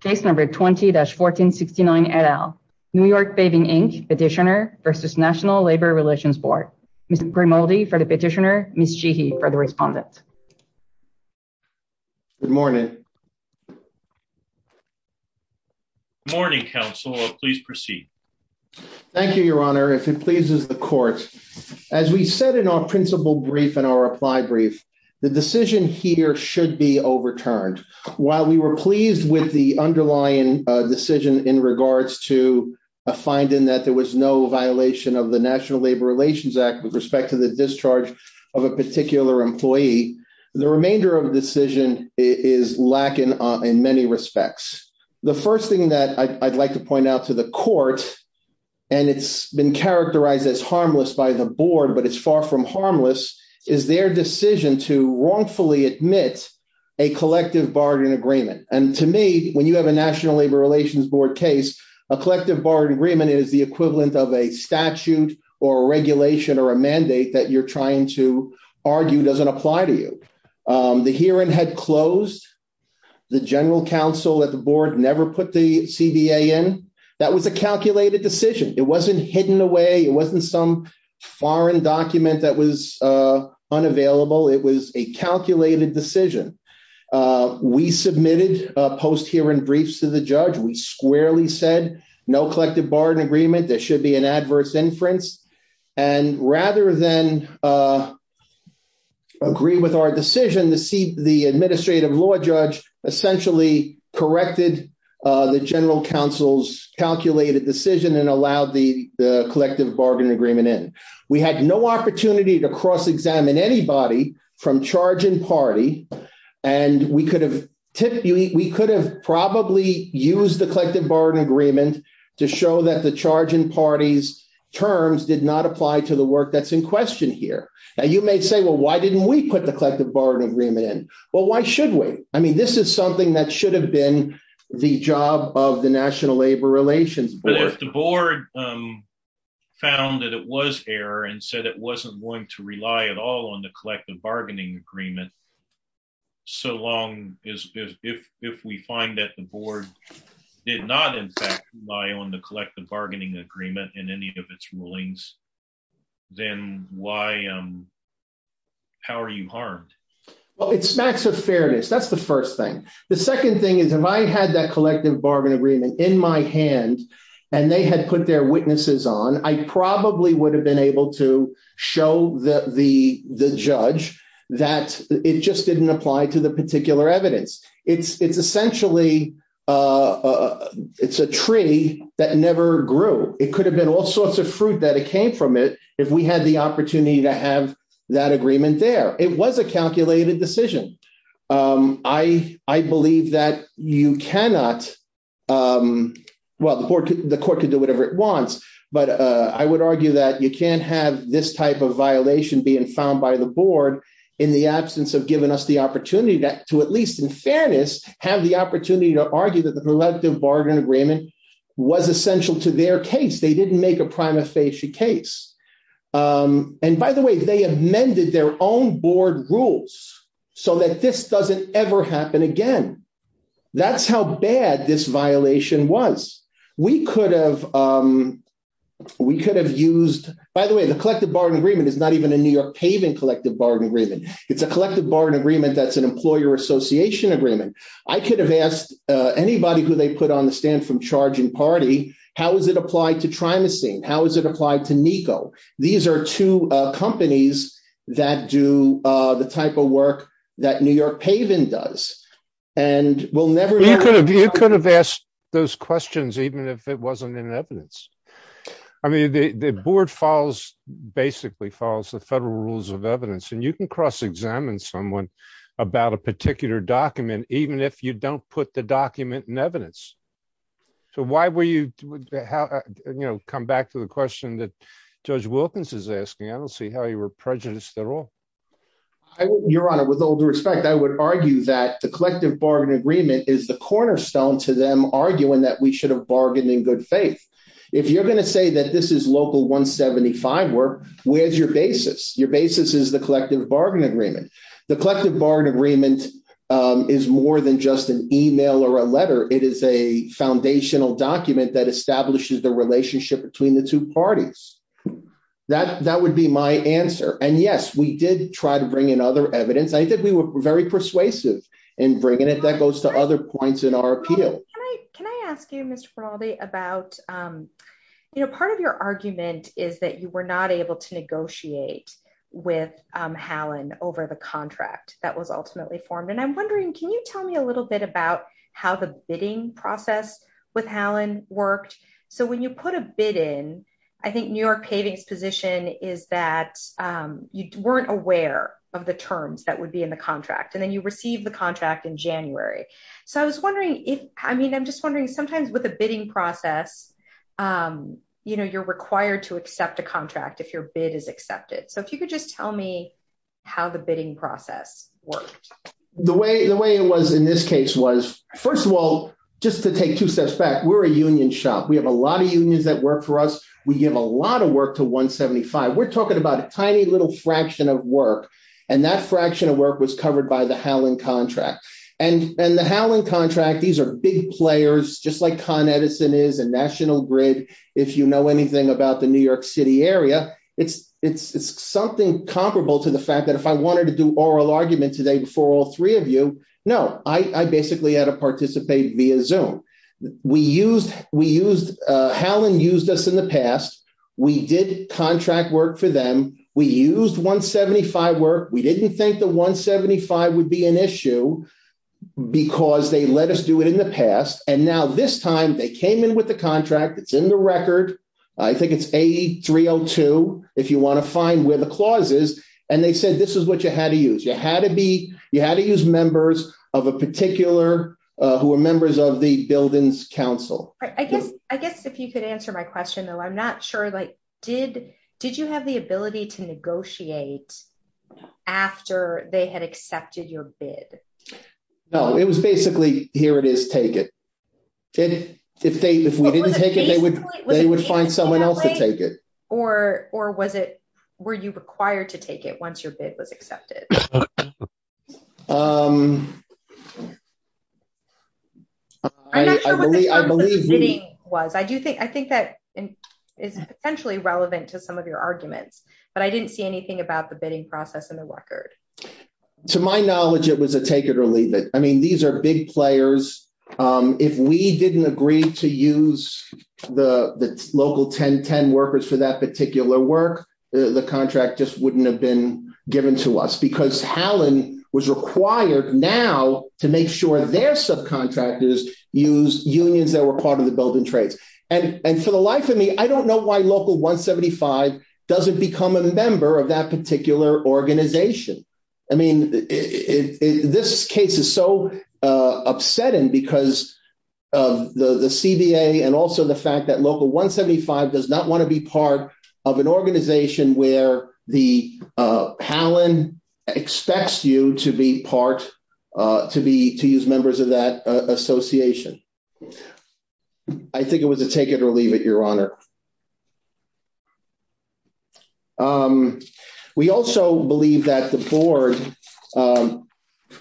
Case No. 20-1469, et al. New York Paving, Inc. Petitioner v. National Labor Relations Board. Ms. Grimaldi for the petitioner. Ms. Cheehy for the respondent. Good morning. Good morning, counsel. Please proceed. Thank you, your honor. If it pleases the court, as we said in our principle brief and our reply brief, the decision here should be overturned. While we were pleased with the underlying decision in regards to a finding that there was no violation of the National Labor Relations Act with respect to the discharge of a particular employee, the remainder of the decision is lacking in many respects. The first thing that I'd like to point out to the court, and it's been characterized as harmless by the board, but it's far from harmless, is their decision to wrongfully admit a collective bargaining agreement. And to me, when you have a National Labor Relations Board case, a collective bargaining agreement is the equivalent of a statute or a regulation or a mandate that you're trying to argue doesn't apply to you. The hearing had closed. The general counsel at the board never put the CBA in. That was a calculated decision. It wasn't hidden away. It wasn't some foreign document that was unavailable. It was a calculated decision. We submitted post-hearing briefs to the judge. We squarely said no collective bargaining agreement. There should be an adverse inference. And rather than agree with our decision, the administrative law judge essentially corrected the general counsel's calculated decision and allowed the collective agreement in. We had no opportunity to cross-examine anybody from charge and party, and we could have probably used the collective bargaining agreement to show that the charge and party's terms did not apply to the work that's in question here. And you may say, well, why didn't we put the collective bargaining agreement in? Well, why should we? I mean, this is something that should have been the job of the National Labor Relations Board. The board found that it was error and said it wasn't going to rely at all on the collective bargaining agreement, so long as if we find that the board did not, in fact, rely on the collective bargaining agreement in any of its rulings, then how are you harmed? Well, it smacks of fairness. That's the first thing. The second thing is, if I had that collective bargaining agreement in my hand and they had put their witnesses on, I probably would have been able to show the judge that it just didn't apply to the particular evidence. It's essentially, it's a tree that never grew. It could have been all sorts of fruit that came from it if we had the opportunity to have that agreement there. It was a calculated decision. I believe that you cannot, well, the court could do whatever it wants, but I would argue that you can't have this type of violation being found by the board in the absence of giving us the opportunity to at least, in fairness, have the opportunity to argue that the collective bargaining agreement was essential to their case. They didn't make a prima facie case. And by the way, they amended their own board rules so that this doesn't ever happen again. That's how bad this violation was. We could have used, by the way, the collective bargaining agreement is not even a New York paving collective bargaining agreement. It's a collective bargaining agreement that's an employer association agreement. I could have asked anybody who they put on the charge and party, how is it applied to Trimestine? How is it applied to NECO? These are two companies that do the type of work that New York paving does. And we'll never- You could have asked those questions even if it wasn't in evidence. I mean, the board basically follows the federal rules of evidence. And you can cross examine someone about a particular document, even if you don't put the document in evidence. So why were you- You know, come back to the question that Judge Wilkins is asking. I don't see how you were prejudiced at all. Your Honor, with all due respect, I would argue that the collective bargaining agreement is the cornerstone to them arguing that we should have bargained in good faith. If you're going to say that this is local 175 work, where's your basis? Your basis is the collective bargaining agreement. The collective bargaining agreement is more than just an email or a letter. It is a foundational document that establishes the relationship between the two parties. That would be my answer. And yes, we did try to bring in other evidence. I think we were very persuasive in bringing it. That goes to other points in our appeal. Can I ask you, Mr. Feraldi, about- You know, part of your argument is that you were not able to that was ultimately formed. And I'm wondering, can you tell me a little bit about how the bidding process with Hallin worked? So when you put a bid in, I think New York Paving's position is that you weren't aware of the terms that would be in the contract. And then you received the contract in January. So I was wondering if- I mean, I'm just wondering, sometimes with a bidding process, you know, you're required to accept a contract if your bid is accepted. So if you could just tell me how the bidding process worked. The way it was in this case was, first of all, just to take two steps back, we're a union shop. We have a lot of unions that work for us. We give a lot of work to 175. We're talking about a tiny little fraction of work. And that fraction of work was covered by the Hallin contract. And the Hallin contract, these are big players, just like Con Edison is and National Grid. If you know anything about New York City area, it's something comparable to the fact that if I wanted to do oral argument today before all three of you, no, I basically had to participate via Zoom. We used- Hallin used us in the past. We did contract work for them. We used 175 work. We didn't think the 175 would be an issue because they let us do it in the past. And now this time they came in with a contract. It's in the record. I think it's A302, if you want to find where the clause is. And they said, this is what you had to use. You had to be, you had to use members of a particular, who are members of the Buildings Council. I guess, I guess if you could answer my question though, I'm not sure, like, did, did you have the ability to negotiate after they had accepted your bid? No, it was basically, here it is, take it. If they, if we didn't take it, they would, they would find someone else to take it. Or, or was it, were you required to take it once your bid was accepted? I'm not sure what the terms of the bidding was. I do think, I think that is potentially relevant to some of your arguments, but I didn't see anything about the bidding process in the record. To my knowledge, it was a take it or leave it. I mean, these are big players. If we didn't agree to use the, the local 1010 workers for that particular work, the contract just wouldn't have been given to us because Hallin was required now to make sure their subcontractors used unions that were part of the building trades. And, and for the life of me, I don't know why local 175 doesn't become a member of that particular organization. I mean, this case is so upsetting because of the CBA and also the fact that local 175 does not want to be part of an organization where the Hallin expects you to be part, to be, to use members of that association. I think it was a take it or leave it, your honor. We also believe that the board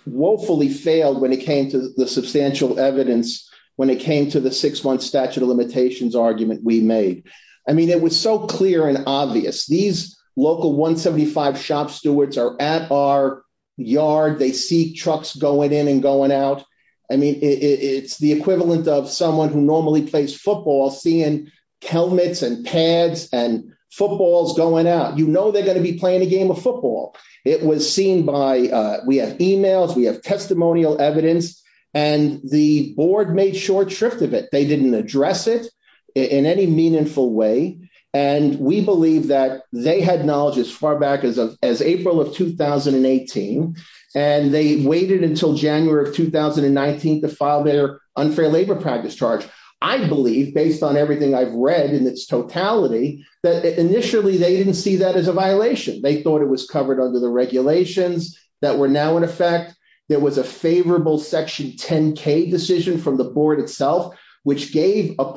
woefully failed when it came to the substantial evidence, when it came to the six months statute of limitations argument we made. I mean, it was so clear and obvious. These local 175 shop stewards are at our yard. They see trucks going in going out. I mean, it's the equivalent of someone who normally plays football, seeing helmets and pads and footballs going out. You know, they're going to be playing a game of football. It was seen by we have emails, we have testimonial evidence, and the board made short shrift of it. They didn't address it in any meaningful way. And we believe that they had as far back as April of 2018. And they waited until January of 2019 to file their unfair labor practice charge. I believe, based on everything I've read in its totality, that initially they didn't see that as a violation. They thought it was covered under the regulations that were now in effect. There was a favorable section 10K decision from the board itself, which gave a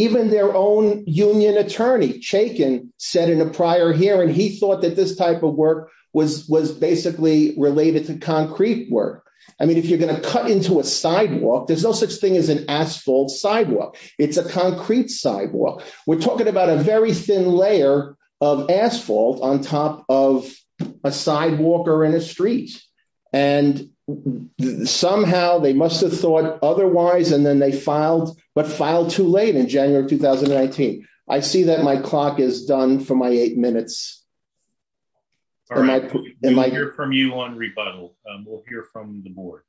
their own union attorney, Chaykin, said in a prior hearing, he thought that this type of work was basically related to concrete work. I mean, if you're going to cut into a sidewalk, there's no such thing as an asphalt sidewalk. It's a concrete sidewalk. We're talking about a very thin layer of asphalt on top of a sidewalk or in a street. And somehow they must have thought otherwise, and then they filed, but filed too late in January of 2019. I see that my clock is done for my eight minutes. All right, we'll hear from you on rebuttal. We'll hear from the board.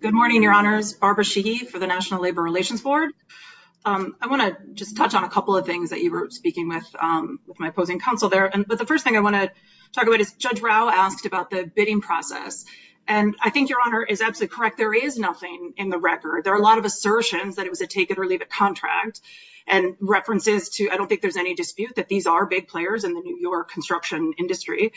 Good morning, your honors. Barbara Sheehy for the National Labor Relations Board. I want to just touch on a couple of things that you were speaking with, with my opposing counsel there. But the first thing I want to talk about is Judge Rao asked about the bidding process. And I think your honor is absolutely correct. There is nothing in the record. There are a lot of assertions that it was a take it or leave it contract and references to, I don't think there's any dispute that these are big players in the New York construction industry.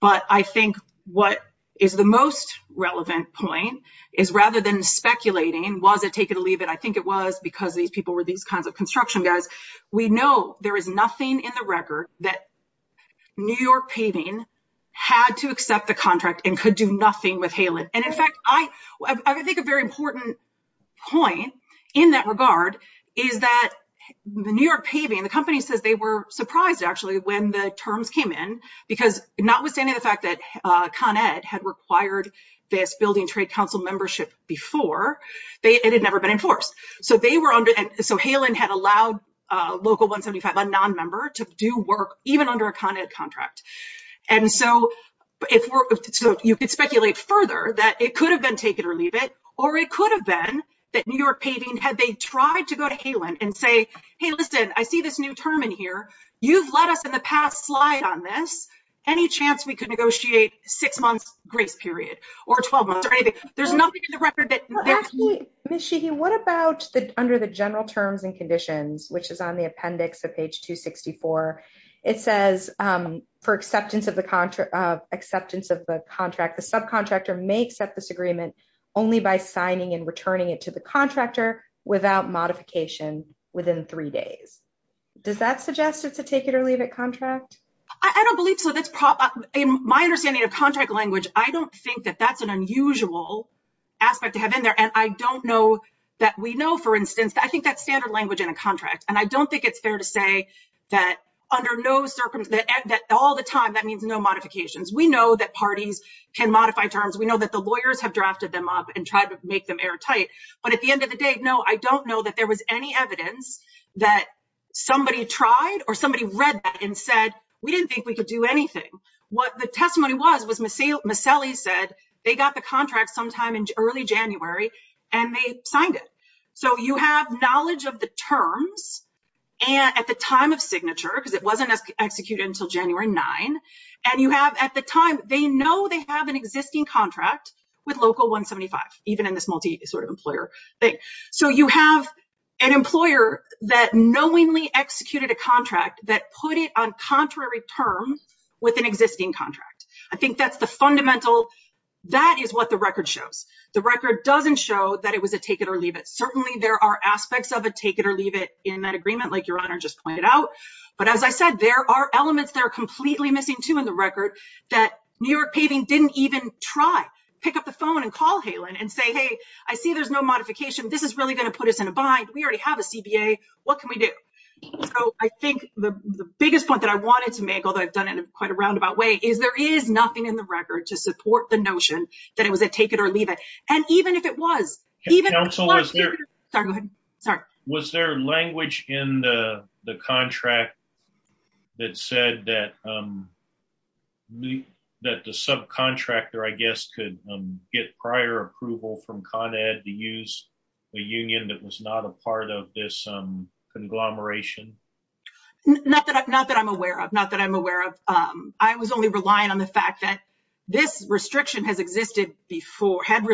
But I think what is the most relevant point is rather than speculating, was it take it or leave it? I think it was because these people were these kinds of construction guys. We know there is nothing in the record that New York Paving had to accept the contract and could do nothing with Halen. And in fact, I think a very important point in that regard is that the New York Paving, the company says they were surprised actually when the terms came in because notwithstanding the fact that Con Ed had required this building trade council membership before, it had never been enforced. So Halen had allowed Local 175, a non-member, to do work even under a Con Ed contract. And so you could speculate further that it could have been take it or leave it, or it could have been that New York Paving, had they tried to go to Halen and say, hey, listen, I see this new term in here. You've let us in the past slide on this. Any chance we could negotiate six months grace period or 12 months or anything? There's nothing in the record that- Ms. Sheehy, what about under the general terms and conditions, which is on the appendix of page 264, it says for acceptance of the contract, the subcontractor may accept this agreement only by signing and returning it to the contractor without modification within three days. Does that suggest it's a take it or leave it contract? Ms. Sheehy, I don't believe so. That's my understanding of contract language. I don't think that that's an unusual aspect to have in there. And I don't know that we know, for instance, I think that's standard language in a contract. And I don't think it's fair to say that under no circumstances, that all the time, that means no modifications. We know that parties can modify terms. We know that the lawyers have drafted them up and tried to make them airtight. But at the end of the day, no, I don't know that there was any evidence that somebody tried or somebody read that and said, we didn't think we could do anything. What the testimony was, was Maselli said they got the contract sometime in early January and they signed it. So you have knowledge of the terms and at the time of signature, because it wasn't executed until January 9. And you have at the time, they know they have an existing contract with local 175, even in this multi sort of employer thing. So you have an employer that knowingly executed a contract that put it on fundamental. That is what the record shows. The record doesn't show that it was a take it or leave it. Certainly, there are aspects of a take it or leave it in that agreement, like your honor just pointed out. But as I said, there are elements that are completely missing, too, in the record that New York paving didn't even try. Pick up the phone and call Halen and say, hey, I see there's no modification. This is really going to put us in a bind. We already have a CBA. What can we do? So I think the biggest point that I wanted to make, although I've done it in quite a roundabout way, is there is nothing in the record to support the notion that it was a take it or leave it. And even if it was, even if it wasn't, was there language in the contract that said that the subcontractor, I guess, could get prior approval from Con Ed to use a union that was not a part of this conglomeration? Not that I'm not that I'm aware of. Not that I'm aware of. I was only relying on the fact that this restriction had existed before and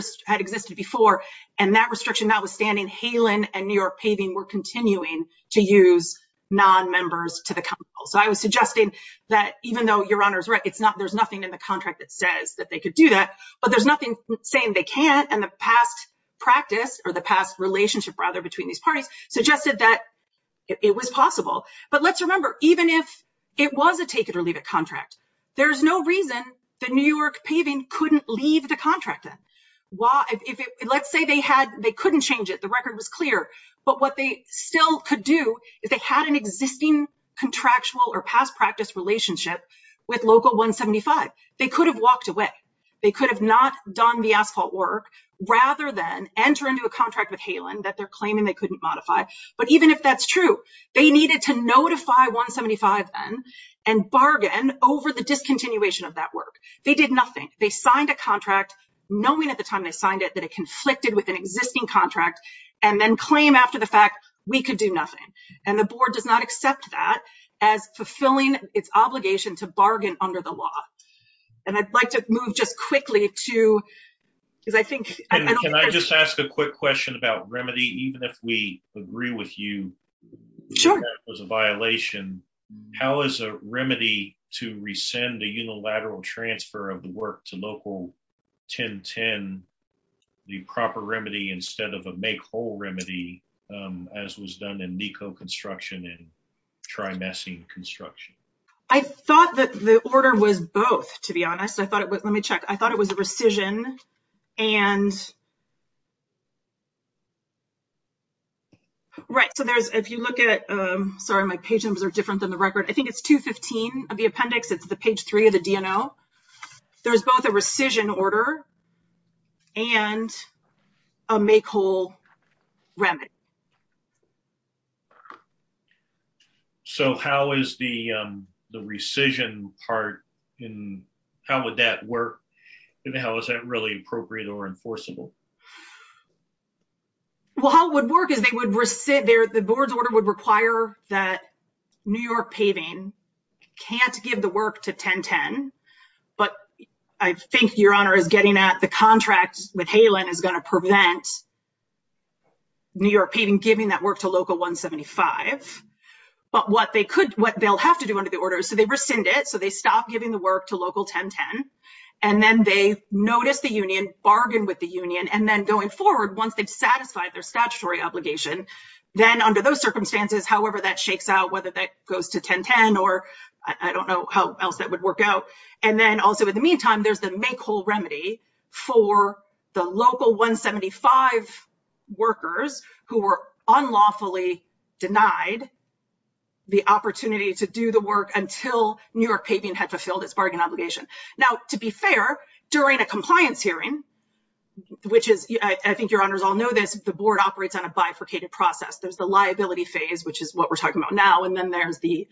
that restriction notwithstanding, Halen and New York paving were continuing to use non-members to the council. So I was suggesting that even though your honor's right, there's nothing in the contract that says that they could do that, but there's nothing saying they can't. And the past practice or the past relationship, rather, between these parties suggested that it was possible. But let's There's no reason the New York paving couldn't leave the contract in. Let's say they couldn't change it. The record was clear. But what they still could do is they had an existing contractual or past practice relationship with local 175. They could have walked away. They could have not done the asphalt work rather than enter into a contract with Halen that they're claiming they over the discontinuation of that work. They did nothing. They signed a contract, knowing at the time they signed it, that it conflicted with an existing contract and then claim after the fact we could do nothing. And the board does not accept that as fulfilling its obligation to bargain under the law. And I'd like to move just quickly to because I think Can I just ask a quick question about remedy, even if we agree with you? Sure. It was a violation. How is a remedy to rescind the unilateral transfer of the work to local 1010 the proper remedy instead of a make whole remedy, as was done in NICO construction and trimessing construction? I thought that the order was both, to be honest. I thought it was, and right. So there's, if you look at, sorry, my page numbers are different than the record. I think it's 215 of the appendix. It's the page three of the DNO. There's both a rescission order and a make whole remedy. So how is the, the rescission part in, how would that work? And how is that really appropriate or enforceable? Well, how it would work is they would rescind their, the board's order would require that New York paving can't give the work to 1010. But I think your honor is getting at the contract with Halen is going to prevent New York paving, giving that work to local 175. But what they could, what they'll have to do under the order. So they rescind it. So they stopped giving the work to local 1010, and then they noticed the union bargain with the union. And then going forward, once they've satisfied their statutory obligation, then under those circumstances, however, that shakes out, whether that goes to 1010, or I don't know how else that would work out. And then also in the meantime, there's the make whole remedy for the local 175 workers who unlawfully denied the opportunity to do the work until New York paving had fulfilled its bargain obligation. Now, to be fair, during a compliance hearing, which is, I think your honors all know this, the board operates on a bifurcated process. There's the liability phase, which is what we're talking about now. And then there's the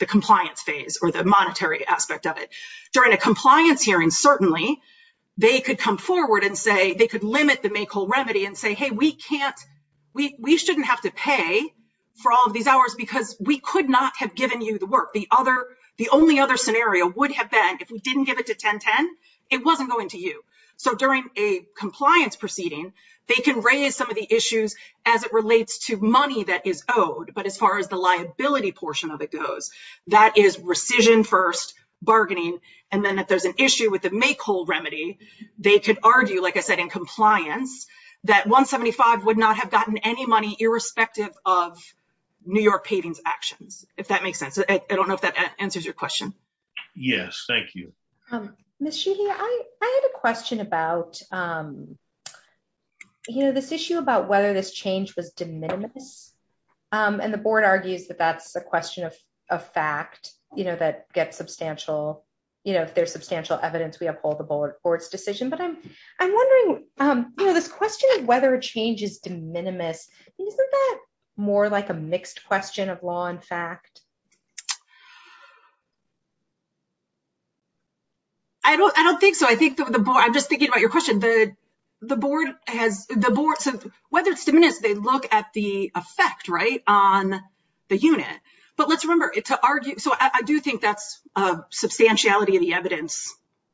compliance phase or the monetary aspect of it. During a compliance hearing, certainly they could come forward and say they could limit the make whole remedy and say, hey, we shouldn't have to pay for all of these hours because we could not have given you the work. The only other scenario would have been if we didn't give it to 1010, it wasn't going to you. So during a compliance proceeding, they can raise some of the issues as it relates to money that is owed. But as far as the liability portion of it goes, that is rescission first bargaining. And then if there's an issue with the make whole remedy, they could argue, like I said, in compliance, that 175 would not have gotten any money, irrespective of New York paving's actions, if that makes sense. I don't know if that answers your question. Yes, thank you. Ms. Sheely, I had a question about, you know, this issue about whether this change was de minimis. And the board argues that that's a question of a fact, you know, that gets substantial, you know, if there's substantial evidence we uphold the board's decision. But I'm wondering, you know, this question of whether change is de minimis, isn't that more like a mixed question of law and fact? I don't I don't think so. I think the board, I'm just thinking about your question, the board has the board, whether it's de minimis, they look at the effect right on the unit. But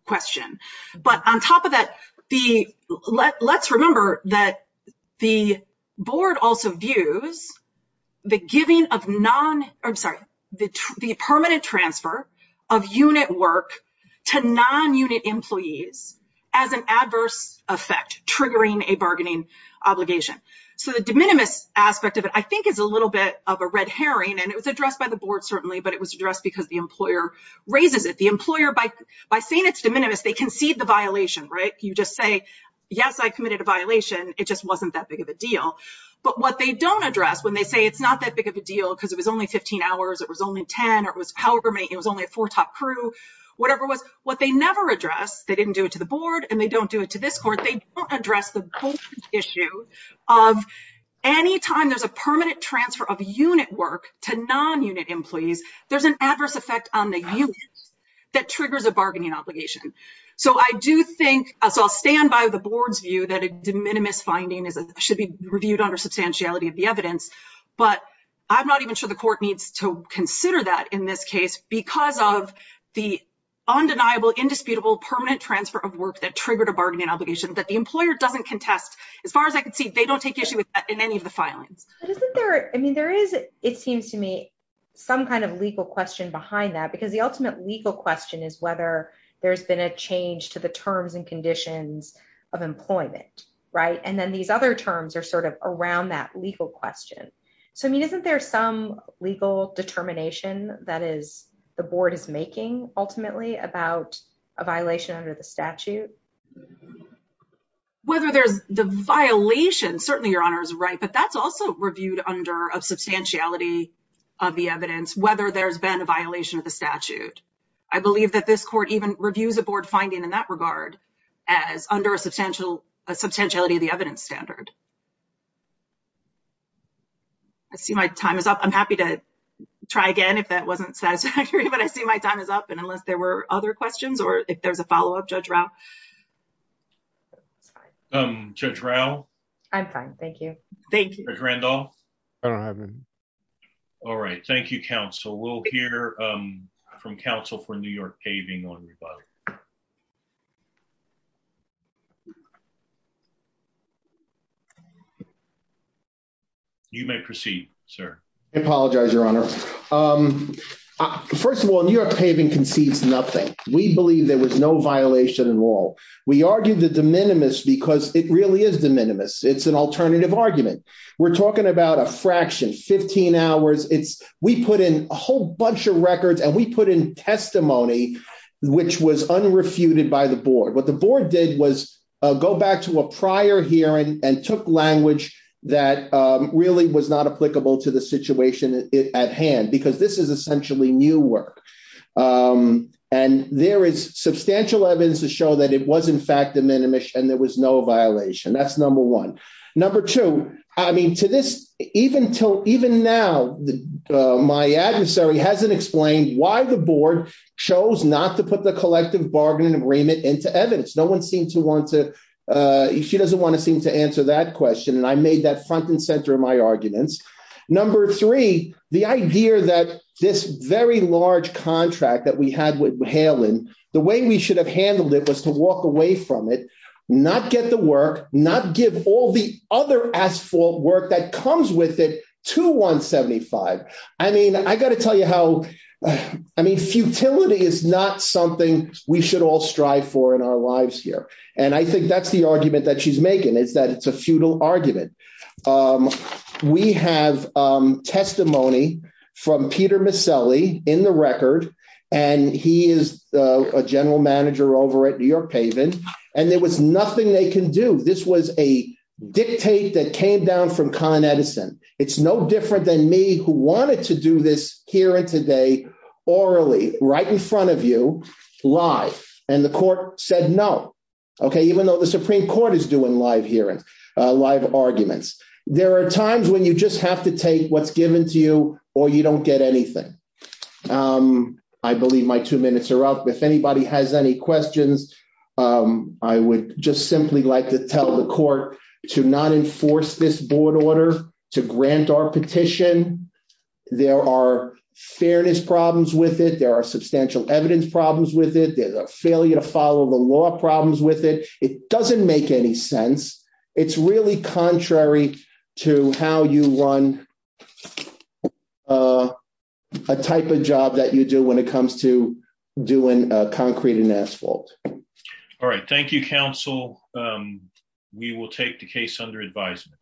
question. But on top of that, the let's remember that the board also views the giving of non I'm sorry, the permanent transfer of unit work to non unit employees as an adverse effect triggering a bargaining obligation. So the de minimis aspect of it, I think, is a little bit of a red herring. And it was addressed by the board, certainly, but it was addressed because the employer raises it the employer by by saying it's de minimis, they concede the violation, right? You just say, yes, I committed a violation. It just wasn't that big of a deal. But what they don't address when they say it's not that big of a deal, because it was only 15 hours, it was only 10, or it was however many, it was only a four top crew, whatever was what they never address, they didn't do it to the board, and they don't do it to this court, they don't address the issue of any time there's a permanent transfer of unit work to non unit employees, there's an adverse effect on the unit that triggers a bargaining obligation. So I do think so I'll stand by the board's view that a de minimis finding is should be reviewed under substantiality of the evidence. But I'm not even sure the court needs to consider that in this case, because of the undeniable, indisputable permanent transfer of work that triggered a bargaining obligation that the employer doesn't contest. As far as I can see, they don't take issue with that in any of the because the ultimate legal question is whether there's been a change to the terms and conditions of employment, right? And then these other terms are sort of around that legal question. So I mean, isn't there some legal determination that is the board is making ultimately about a violation under the statute? Whether there's the violation, certainly, Your Honor is right. But that's also reviewed under a substantiality of the evidence, whether there's been a violation of the statute. I believe that this court even reviews a board finding in that regard, as under a substantial, a substantiality of the evidence standard. I see my time is up. I'm happy to try again, if that wasn't satisfactory, but I see my time is up. And unless there were other questions, or if there's a follow up judge I'm fine. Thank you. Thank you. All right. Thank you, counsel. We'll hear from counsel for New York paving on your body. You may proceed, sir. I apologize, Your Honor. First of all, New York paving concedes nothing. We believe there was no violation at all. We argued the de minimis because it really is de minimis. It's an alternative argument. We're talking about a fraction, 15 hours. We put in a whole bunch of records and we put in testimony, which was unrefuted by the board. What the board did was go back to a prior hearing and took language that really was not applicable to the situation at hand, because this is essentially new work. And there is substantial evidence to show that it was in fact de minimis and there was no violation. That's number one. Number two, I mean, to this, even now, my adversary hasn't explained why the board chose not to put the collective bargaining agreement into evidence. No one seemed to want to. She doesn't want to seem to answer that question. And I made that front and center of my arguments. Number three, the idea that this very large contract that we had with Halen, the way we should have handled it was to walk away from it, not get the work, not give all the other asphalt work that comes with it to 175. I mean, I got to tell you how I mean, futility is not something we should all strive for in our lives here. And I think that's the argument that she's making is that it's a futile argument. We have testimony from Peter Miscelli in the record and he is a general manager over at New York Paven and there was nothing they can do. This was a dictate that came down from Con Edison. It's no different than me who wanted to do this here and orally right in front of you live. And the court said no. Okay, even though the Supreme Court is doing live hearings, live arguments, there are times when you just have to take what's given to you or you don't get anything. I believe my two minutes are up. If anybody has any questions, I would just simply like to tell the court to not enforce this board order to grant our petition. There are fairness problems with it. There are substantial evidence problems with it. There's a failure to follow the law problems with it. It doesn't make any sense. It's really contrary to how you run a type of job that you do when it comes to doing concrete and asphalt. All right. Thank you, counsel. We will take the case under advisement.